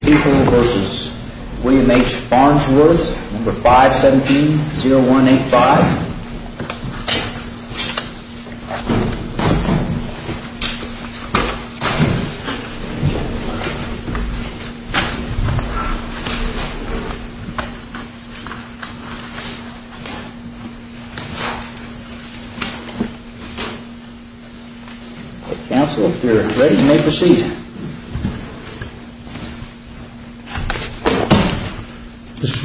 People v. William H. Farnsworth, No. 517-0185 Counsel, you are ready, you may proceed. I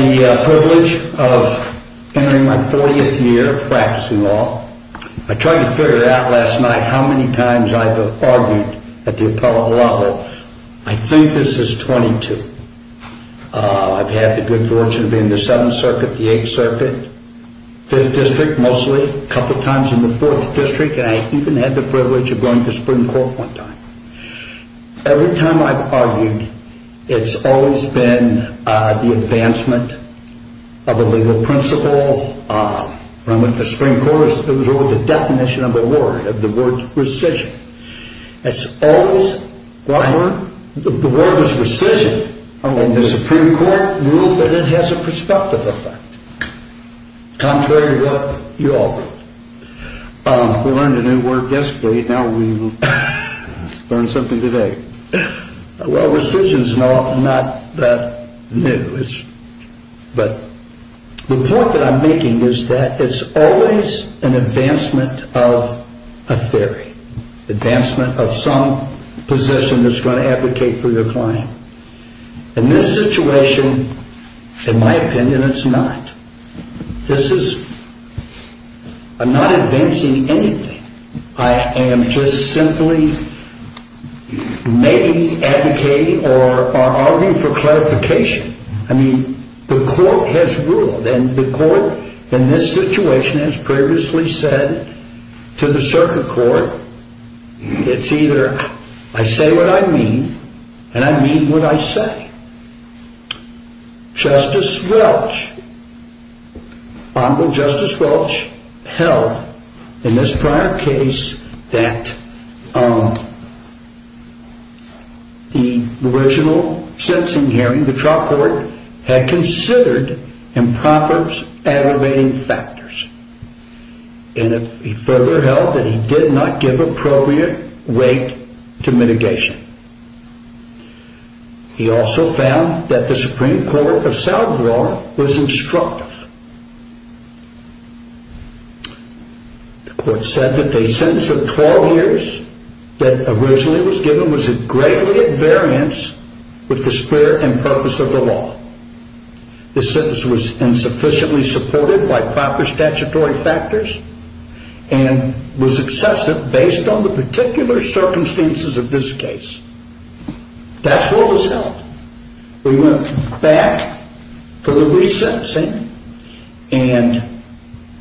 have the privilege of entering my 40th year of practicing law. I tried to figure out last night how many times I have argued at the appellate level. I think this is 22. I have had the good fortune of being in the 7th Circuit, the 8th Circuit, 5th District mostly, a couple of times in the 4th District, and I even had the privilege of going to the Supreme Court one time. Every time I have argued, it has always been the advancement of a legal principle. When I went to the Supreme Court, it was always the definition of a word, of the word rescission. The word was rescission, and the Supreme Court ruled that it has a prospective effect. Contrary to what you all wrote. We learned a new word yesterday, now we will learn something today. Well rescission is not that new, but the point that I am making is that it is always an advancement of a theory. Advancement of some position that is going to advocate for your claim. In this situation, in my opinion, it is not. This is, I am not advancing anything. I am just simply maybe advocating or arguing for clarification. I mean, the court has ruled, and the court in this situation has previously said to the Circuit Court, it is either I say what I mean, and I mean what I say. Justice Welch, Honorable Justice Welch, held in this prior case that the original sentencing hearing, the trial court, had considered improper aggravating factors. He further held that he did not give appropriate weight to mitigation. He also found that the Supreme Court of South Florida was instructive. The court said that the sentence of 12 years that originally was given was a great variance with the spirit and purpose of the law. The sentence was insufficiently supported by proper statutory factors and was excessive based on the particular circumstances of this case. That is what was held. We went back for the re-sentencing, and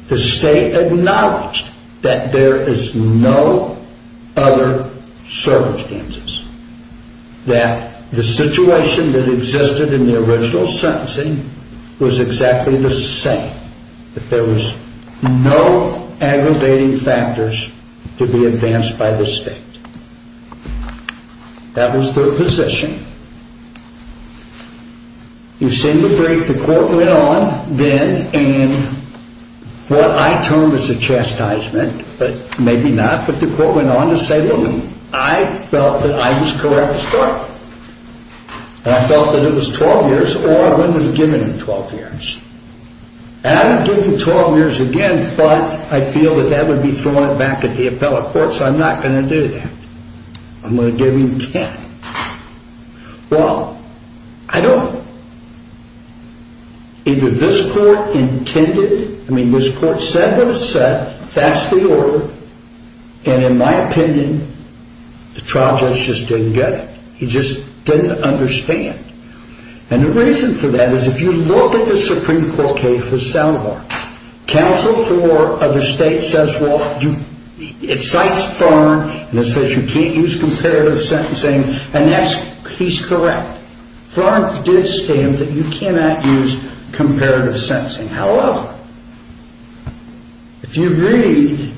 the state acknowledged that there is no other circumstances. That the situation that existed in the original sentencing was exactly the same. That there was no aggravating factors to be advanced by the state. That was their position. You've seen the brief. The court went on then, and what I termed as a chastisement, but maybe not, but the court went on to say, look, I felt that I was correct as court. And I felt that it was 12 years, or I wouldn't have given him 12 years. And I would give him 12 years again, but I feel that that would be throwing it back at the appellate court, so I'm not going to do that. I'm going to give him 10. Well, I don't, either this court intended, I mean this court said what it said, fastly ordered, and in my opinion, the trial judge just didn't get it. He just didn't understand. And the reason for that is, if you look at the Supreme Court case for Selvar, Council 4 of the state says, well, it cites Tharn, and it says you can't use comparative sentencing, and that's, he's correct. Tharn did stand that you cannot use comparative sentencing. However, if you read,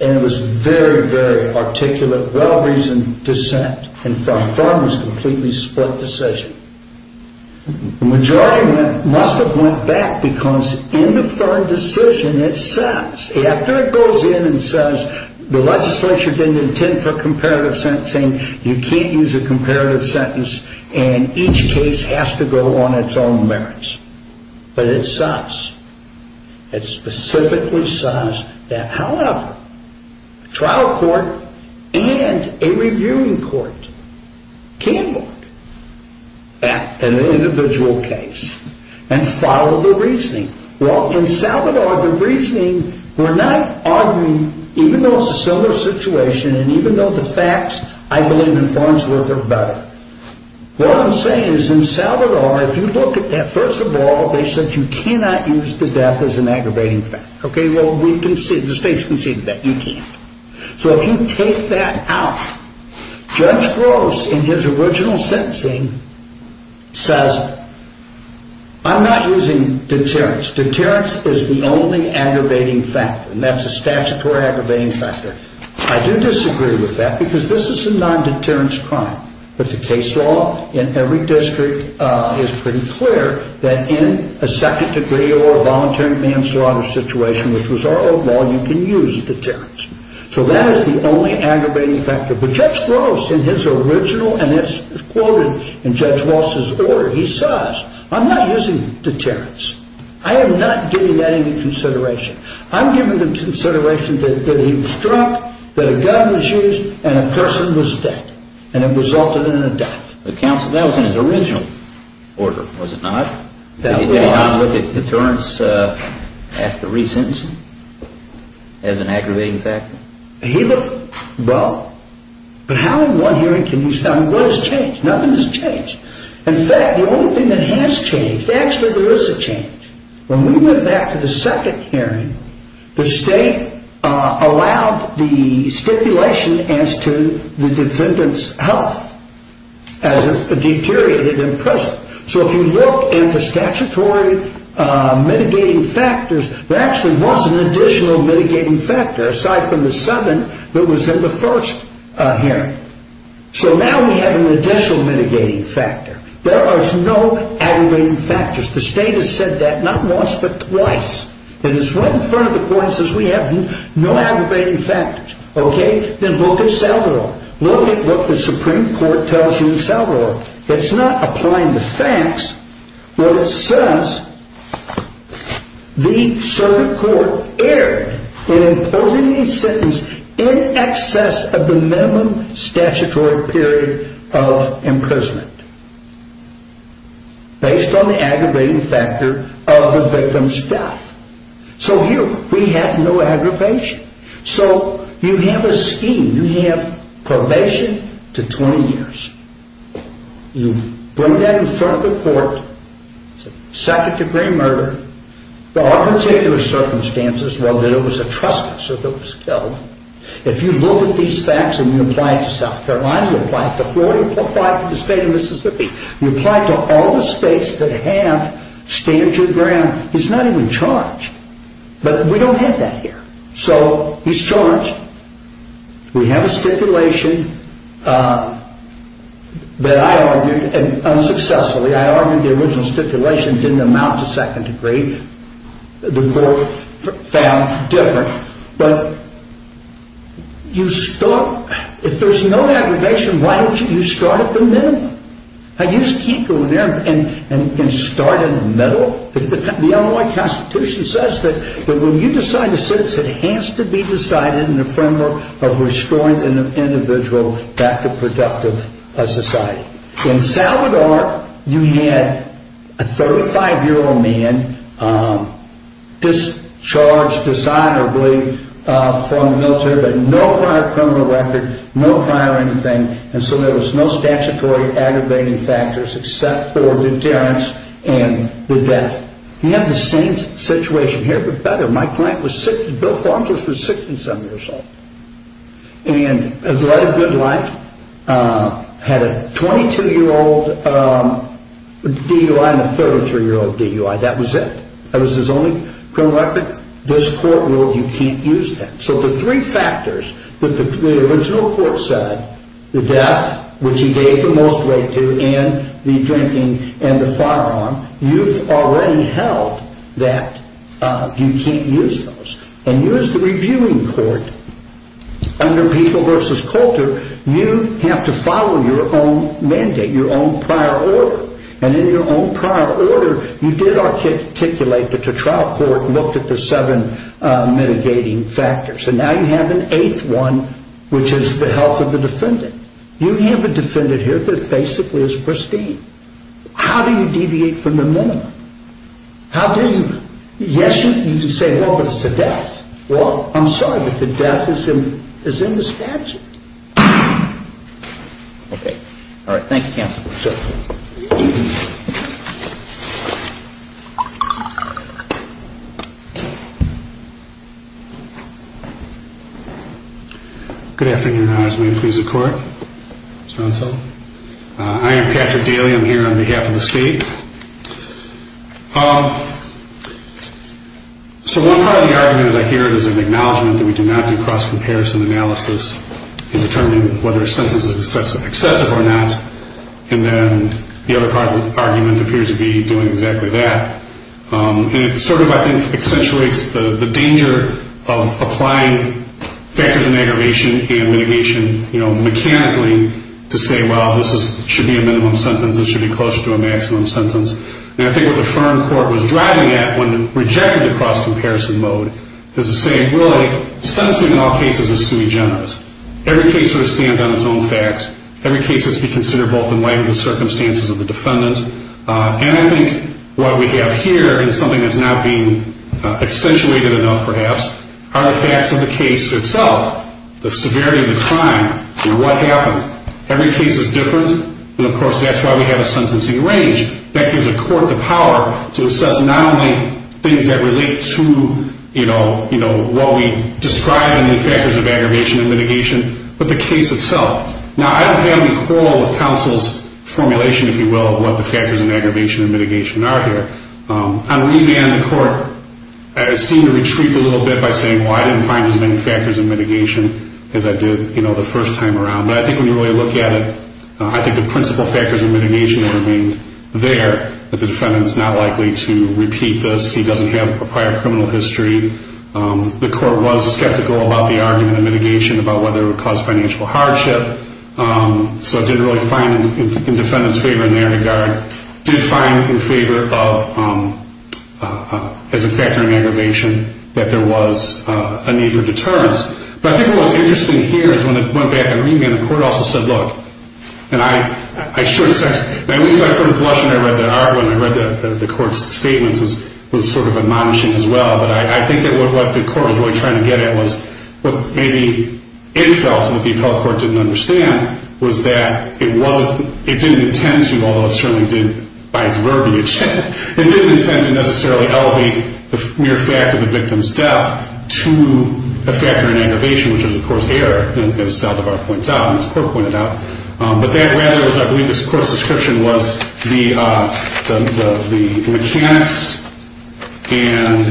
and it was very, very articulate, well-reasoned dissent, and from Tharn's completely split decision, the majority must have went back because in the Tharn decision, it says, after it goes in and says, the legislature didn't intend for comparative sentencing, you can't use a comparative sentence, and each case has to go on its own merits. But it says, it specifically says that, however, trial court and a reviewing court can look at an individual case and follow the reasoning. Well, in Selvar, the reasoning, we're not arguing, even though it's a similar situation, and even though the facts, I believe in Tharn's work are better. What I'm saying is, in Selvar, if you look at that, first of all, they said you cannot use the death as an aggravating factor. Okay, well, the state's conceded that you can't. So if you take that out, Judge Gross, in his original sentencing, says, I'm not using deterrence. Deterrence is the only aggravating factor, and that's a statutory aggravating factor. I do disagree with that, because this is a non-deterrence crime. But the case law in every district is pretty clear that in a second-degree or a voluntary manslaughter situation, which was our old law, you can use deterrence. So that is the only aggravating factor. But Judge Gross, in his original, and it's quoted in Judge Walsh's order, he says, I'm not using deterrence. I am not giving that any consideration. I'm giving the consideration that he obstructed, that a gun was used, and a person was dead. And it resulted in a death. But counsel, that was in his original order, was it not? That was. Did he not look at deterrence after re-sentencing as an aggravating factor? He looked both. But how in one hearing can you say, I mean, what has changed? Nothing has changed. In fact, the only thing that has changed, actually there is a change. When we went back to the second hearing, the state allowed the stipulation as to the defendant's health as it deteriorated in prison. So if you look into statutory mitigating factors, there actually was an additional mitigating factor aside from the seven that was in the first hearing. So now we have an additional mitigating factor. There are no aggravating factors. The state has said that not once, but twice. And it's right in front of the court and says we have no aggravating factors. Okay? Then look at Salvero. Look at what the Supreme Court tells you in Salvero. It's not applying the facts. Well, it says the Supreme Court erred in imposing the sentence in excess of the minimum statutory period of imprisonment based on the aggravating factor of the victim's death. So here we have no aggravation. So you have a scheme. You have probation to 20 years. You bring that in front of the court. It's a second-degree murder. There are particular circumstances where there was a trust case that was killed. If you look at these facts and you apply it to South Carolina, you apply it to Florida, you apply it to the state of Mississippi. You apply it to all the states that have state of jurisdiction. He's not even charged. But we don't have that here. So he's charged. We have a stipulation that I argued unsuccessfully. I argued the original stipulation didn't amount to second degree. The court found different. But you start. If there's no aggravation, why don't you start at the minimum? How do you keep going there and start in the middle? The Illinois Constitution says that when you decide a citizen, it has to be decided in the framework of restoring an individual back to productive society. In Salvador, you had a 35-year-old man discharged dishonorably from the military, but no prior criminal record, no prior anything. And so there was no statutory aggravating factors except for deterrence and the death. You have the same situation here, but better. Bill Farnsworth was 67 years old and led a good life, had a 22-year-old DUI and a 33-year-old DUI. That was it. That was his only criminal record. This court ruled you can't use that. So the three factors that the original court said, the death, which he gave the most weight to, and the drinking and the firearm, you've already held that you can't use those. And here's the reviewing court. Under Pico v. Coulter, you have to follow your own mandate, your own prior order. And in your own prior order, you did articulate that the trial court looked at the seven mitigating factors. And now you have an eighth one, which is the health of the defendant. You have a defendant here that basically is pristine. How do you deviate from the minimum? Yes, you can say, well, but it's the death. Well, I'm sorry, but the death is in the statute. Okay. All right. Thank you, counsel. Sure. Good afternoon, Your Honors. May it please the Court? Yes, counsel. I am Patrick Daly. I'm here on behalf of the state. So one part of the argument, as I hear it, is an acknowledgment that we do not do cross-comparison analysis in determining whether a sentence is excessive or not. And then the other part of the argument appears to be doing exactly that. And it sort of, I think, accentuates the danger of applying factors in aggravation and mitigation, you know, And I think what the firm court was driving at when it rejected the cross-comparison mode is to say, really, sentencing in all cases is sui generis. Every case sort of stands on its own facts. Every case has to be considered both in light of the circumstances of the defendant. And I think what we have here is something that's not being accentuated enough, perhaps, are the facts of the case itself, the severity of the crime and what happened. Every case is different. And, of course, that's why we have a sentencing range. That gives the court the power to assess not only things that relate to, you know, what we describe in the factors of aggravation and mitigation, but the case itself. Now, I don't have any quarrel with counsel's formulation, if you will, of what the factors in aggravation and mitigation are here. On remand, the court seemed to retreat a little bit by saying, well, I didn't find as many factors in mitigation as I did, you know, the first time around. But I think when you really look at it, I think the principal factors in mitigation remained there. But the defendant's not likely to repeat this. He doesn't have a prior criminal history. The court was skeptical about the argument in mitigation about whether it would cause financial hardship. So it didn't really find in defendant's favor in that regard. It did find in favor of, as a factor in aggravation, that there was a need for deterrence. But I think what was interesting here is when it went back on remand, the court also said, look, and I should have said, at least I sort of blushed when I read that argument. I read the court's statements. It was sort of admonishing as well. But I think that what the court was really trying to get at was what maybe it felt, what the appellate court didn't understand, was that it didn't intend to, although it certainly did by its verbiage, it didn't intend to necessarily elevate the mere fact of the victim's death to a factor in aggravation, which was, of course, error, as Saldivar points out, as the court pointed out. But that rather was, I believe, the court's description was the mechanics and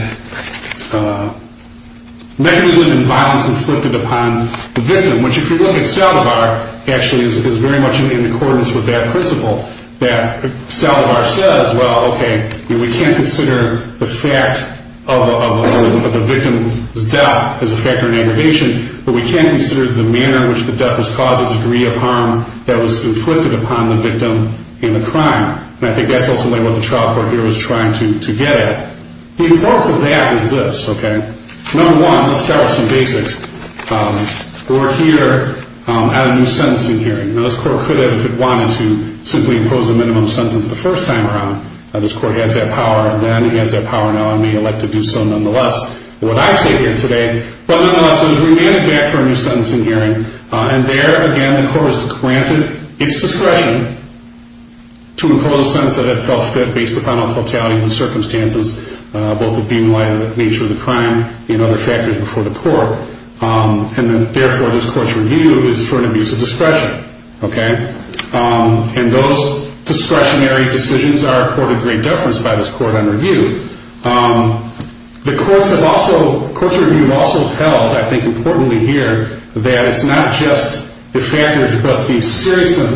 mechanism and violence inflicted upon the victim, which if you look at Saldivar, actually is very much in accordance with that principle, that Saldivar says, well, okay, we can't consider the fact of the victim's death as a factor in aggravation, but we can consider the manner in which the death was caused a degree of harm that was inflicted upon the victim in the crime. And I think that's ultimately what the trial court here was trying to get at. The importance of that is this, okay. Number one, let's start with some basics. We're here at a new sentencing hearing. Now, this court could have, if it wanted to, simply imposed a minimum sentence the first time around. Now, this court has that power then, it has that power now, and may elect to do so nonetheless with what I say here today. But nonetheless, it was remanded back for a new sentencing hearing, and there, again, the court was granted its discretion to impose a sentence that it felt fit based upon all totality of the circumstances, both of being in light of the nature of the crime and other factors before the court. And therefore, this court's review is for an abuse of discretion, okay. And those discretionary decisions are accorded great deference by this court on review. The courts have also, the courts' review have also held, I think importantly here, that it's not just the factors but the seriousness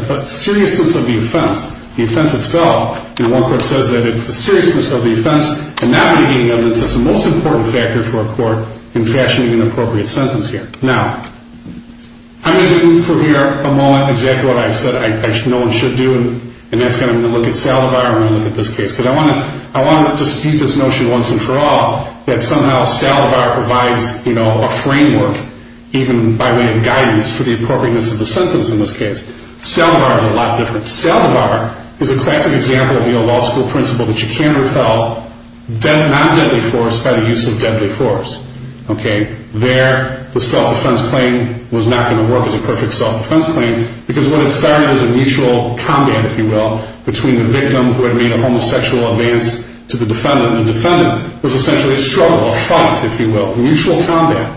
of the offense, the offense itself. And one court says that it's the seriousness of the offense, and not mitigating evidence, that's the most important factor for a court in fashioning an appropriate sentence here. Now, I'm going to do for here a moment exactly what I said no one should do, and that's going to look at salivar and I'm going to look at this case. Because I want to dispute this notion once and for all that somehow salivar provides a framework, even by way of guidance, for the appropriateness of the sentence in this case. Salivar is a lot different. Not deadly force by the use of deadly force, okay. There, the self-defense claim was not going to work as a perfect self-defense claim because what it started as a mutual combat, if you will, between the victim who had made a homosexual advance to the defendant. And the defendant was essentially a struggle, a fight, if you will, mutual combat.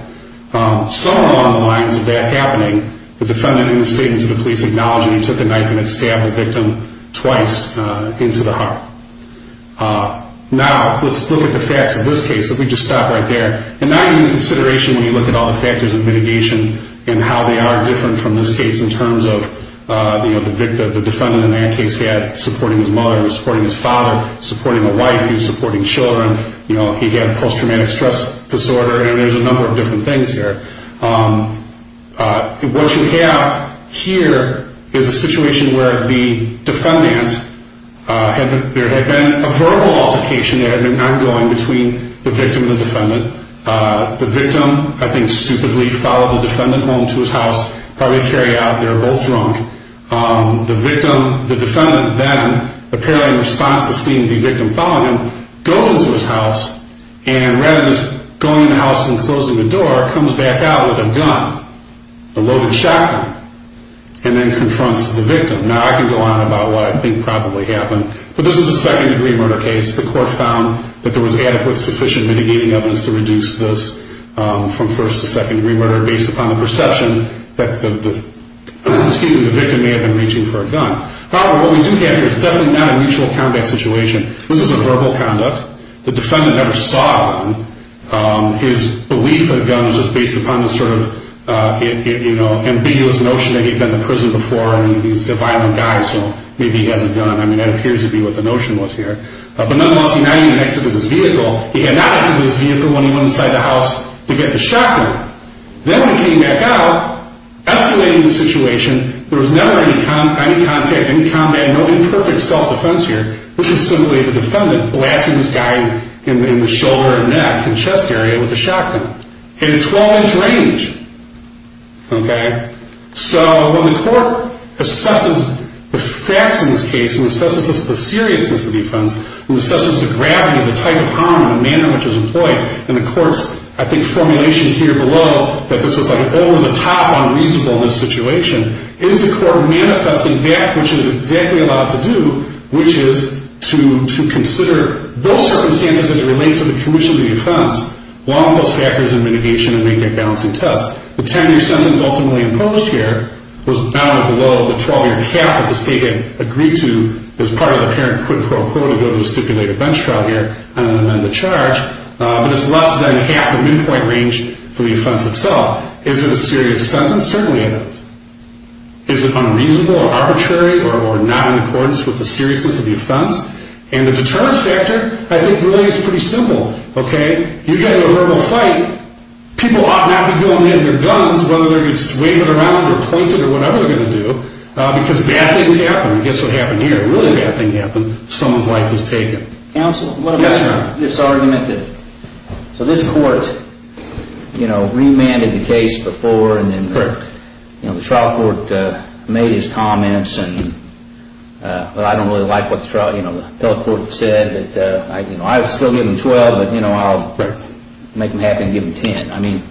Some along the lines of that happening, the defendant in the statement to the police acknowledged that he took a knife and had stabbed the victim twice into the heart. Now, let's look at the facts of this case. Let me just stop right there. And now you need consideration when you look at all the factors of mitigation and how they are different from this case in terms of the victim. The defendant in that case had supporting his mother, he was supporting his father, supporting a wife, he was supporting children. He had post-traumatic stress disorder, and there's a number of different things here. What you have here is a situation where the defendant had been, there had been a verbal altercation that had been ongoing between the victim and the defendant. The victim, I think, stupidly followed the defendant home to his house, probably carried out, they were both drunk. The victim, the defendant then, apparently in response to seeing the victim following him, goes into his house and rather than going in the house and closing the door, comes back out with a gun, a loaded shotgun, and then confronts the victim. Now, I can go on about what I think probably happened. But this is a second-degree murder case. The court found that there was adequate, sufficient mitigating evidence to reduce this from first- to second-degree murder based upon the perception that the, excuse me, the victim may have been reaching for a gun. However, what we do have here is definitely not a mutual combat situation. This is a verbal conduct. The defendant never saw him. His belief in a gun was just based upon the sort of, you know, ambiguous notion that he'd been to prison before and he's a violent guy, so maybe he has a gun. I mean, that appears to be what the notion was here. But nonetheless, he not even exited his vehicle. He had not exited his vehicle when he went inside the house to get the shotgun. Then he came back out, escalating the situation. There was never any contact, any combat, no imperfect self-defense here, which is simply the defendant blasting this guy in the shoulder and neck and chest area with a shotgun in a 12-inch range. Okay? So when the court assesses the facts in this case and assesses the seriousness of defense and assesses the gravity of the type of harm and the manner in which it was employed, and the court's, I think, formulation here below that this was, like, over-the-top unreasonable in this situation, is the court manifesting that which it is exactly allowed to do, which is to consider those circumstances as it relates to the commission of the offense, along those factors in mitigation and make that balancing test. The 10-year sentence ultimately imposed here was bounded below the 12-year cap that the state had agreed to as part of the parent quid pro quo to go to the stipulated bench trial here and amend the charge, but it's less than half the midpoint range for the offense itself. Is it a serious sentence? Certainly it is. Is it unreasonable or arbitrary or not in accordance with the seriousness of the offense? And the deterrence factor, I think, really is pretty simple, okay? You get into a verbal fight, people ought not be going in with their guns, whether they're waving them around or pointed or whatever they're going to do, because bad things happen. And guess what happened here? A really bad thing happened. Someone's life was taken. Counsel? Yes, sir. This argument that, so this court, you know, remanded the case before and then the trial court made its comments and, well, I don't really like what the trial, you know, the appellate court said that, you know, I'd still give them 12, but, you know, I'll make them happy and give them 10. I mean,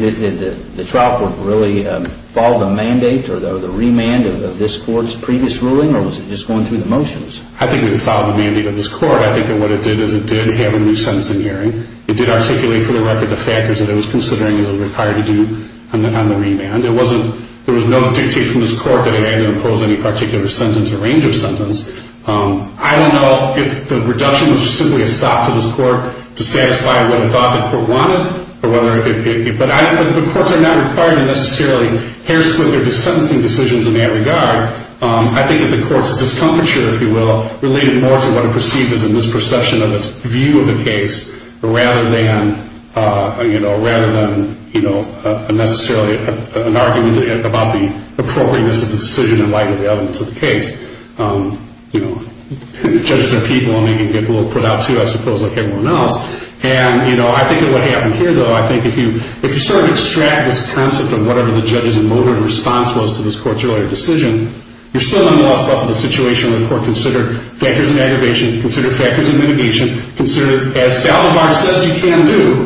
did the trial court really follow the mandate or the remand of this court's previous ruling or was it just going through the motions? I think we followed the mandate of this court. I think that what it did is it did have a new sentencing hearing. It did articulate for the record the factors that it was considering it was required to do on the remand. It wasn't, there was no dictation from this court that it had to impose any particular sentence or range of sentence. I don't know if the reduction was simply a sock to this court to satisfy what it thought the court wanted or whether it could, but I don't know. The courts are not required to necessarily hair-split their sentencing decisions in that regard. I think that the court's discomfiture, if you will, related more to what it perceived as a misperception of its view of the case rather than, you know, rather than, you know, necessarily an argument about the appropriateness of the decision in light of the elements of the case. You know, judges are people and they can get a little put out too, I suppose, like everyone else. And, you know, I think that what happened here, though, I think if you sort of extract this concept of whatever the judge's emotive response was to this court's earlier decision, you're still nonetheless left with a situation where the court considered factors of aggravation, considered factors of mitigation, considered as salivar says you can do,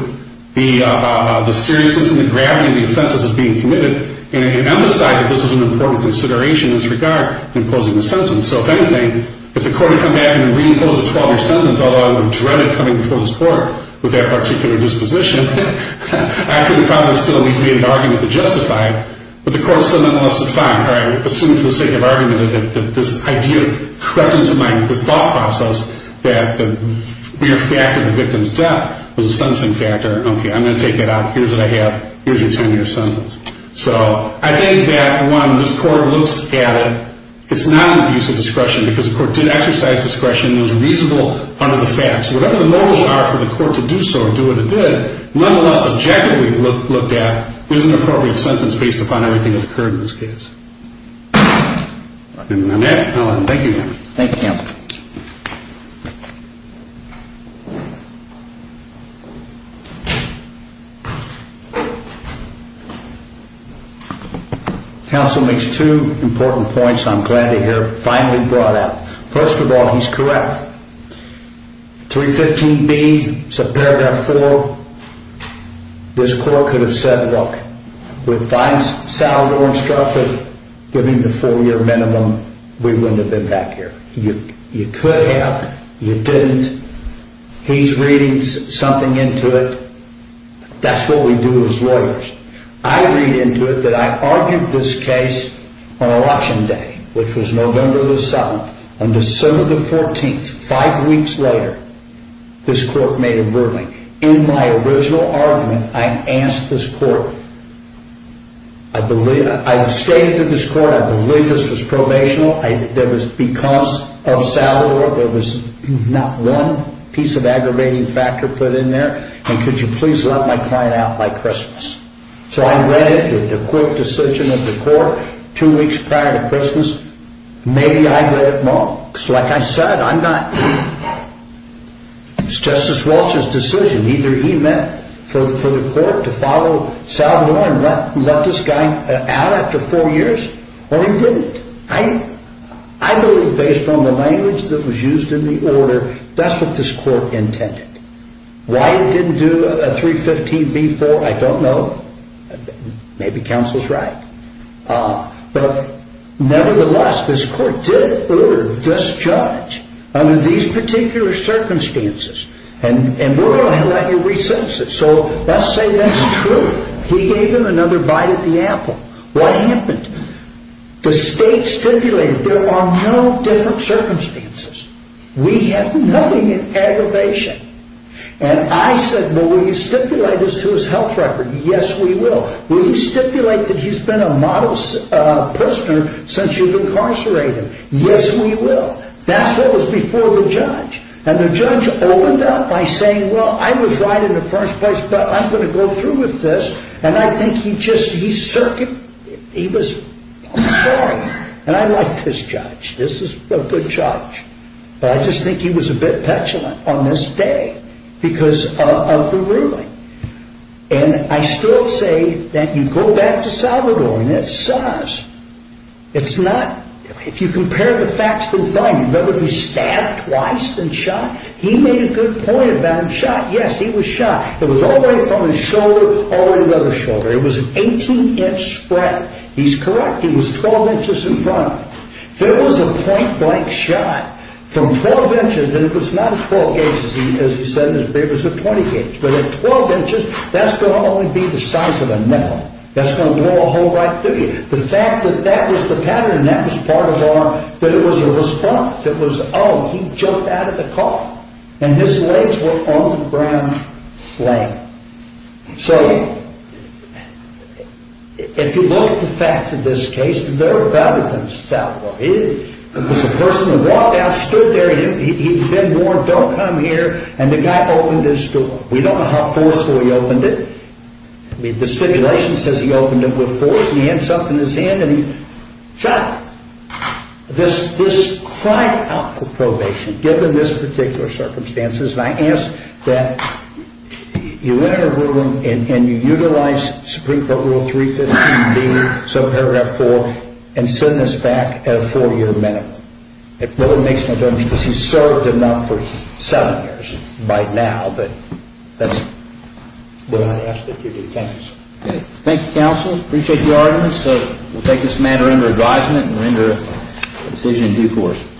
the seriousness and the gravity of the offenses that's being committed and emphasized that this was an important consideration in its regard in imposing the sentence. So, if anything, if the court had come back and reimposed a 12-year sentence, although I would have dreaded coming before this court with that particular disposition, I think the problem is still we've made an argument to justify it, but the court still nonetheless defined, all right, assumed for the sake of argument that this idea crept into mind, this thought process that the mere fact of the victim's death was a sentencing factor. Okay, I'm going to take that out. Here's what I have. Here's your 10-year sentence. So, I think that, one, this court looks at it. It's not an abuse of discretion because the court did exercise discretion. It was reasonable under the facts. Whatever the motives are for the court to do so or do what it did, nonetheless, objectively looked at, it was an appropriate sentence based upon everything that occurred in this case. And I'm out. Thank you, Your Honor. Thank you, Counsel. Counsel makes two important points I'm glad to hear finally brought up. First of all, he's correct. 315B, it's a Paragraph 4. This court could have said, look, if I sat on the orange carpet giving the four-year minimum, we wouldn't have been back here. You could have. You didn't. He's reading something into it. That's what we do as lawyers. I read into it that I argued this case on a watching day, which was November the 7th. On December the 14th, five weeks later, this court made a ruling. In my original argument, I asked this court, I stated to this court, I believe this was probational, there was because of salary, there was not one piece of aggravating factor put in there, and could you please let my client out by Christmas. So I read it with the quick decision of the court, two weeks prior to Christmas, maybe I got it wrong. Like I said, it was Justice Walsh's decision. Either he meant for the court to follow Salvador and let this guy out after four years, or he didn't. I believe based on the language that was used in the order, that's what this court intended. Why it didn't do a 315B4, I don't know. Maybe counsel's right. But nevertheless, this court did order this judge, under these particular circumstances, and we're going to let you re-sentence him. So let's say that's true. He gave him another bite at the apple. What happened? The state stipulated there are no different circumstances. We have nothing in aggravation. And I said, well will you stipulate this to his health record? Yes, we will. Will you stipulate that he's been a model prisoner since you've incarcerated him? Yes, we will. That's what was before the judge. And the judge opened up by saying, well, I was right in the first place, but I'm going to go through with this. And I think he just, he was, I'm sorry. And I like this judge. This is a good judge. But I just think he was a bit petulant on this day because of the ruling. And I still say that you go back to Salvador, and it's SARS. It's not, if you compare the facts to the finding, remember he was stabbed twice and shot? He made a good point about him shot. Yes, he was shot. It was all the way from his shoulder, all the way to the other shoulder. It was an 18-inch spread. He's correct. He was 12 inches in front of him. There was a point-blank shot from 12 inches, and it was not 12 gauges, as he said in his papers, it was a 20-gauge. But at 12 inches, that's going to only be the size of a nail. That's going to blow a hole right through you. The fact that that was the pattern, that was part of our, that it was a response. It was, oh, he jumped out of the car, and his legs were on the ground laying. So, if you look at the facts of this case, they're better than Salvador. It was a person who walked out, stood there, he'd been warned, don't come here, and the guy opened his door. We don't know how forcefully he opened it. The stipulation says he opened it with force. He had something in his hand, and he shot. This cried out for probation, given this particular circumstance. And I ask that you enter the room, and you utilize Supreme Court Rule 315B, Subparagraph 4, and send this back at a four-year minimum. It really makes no difference, because he served enough for seven years. By now, but that's what I ask that you do. Thank you, Counsel. Appreciate your arguments. So, we'll take this matter under advisement, and render a decision in due course.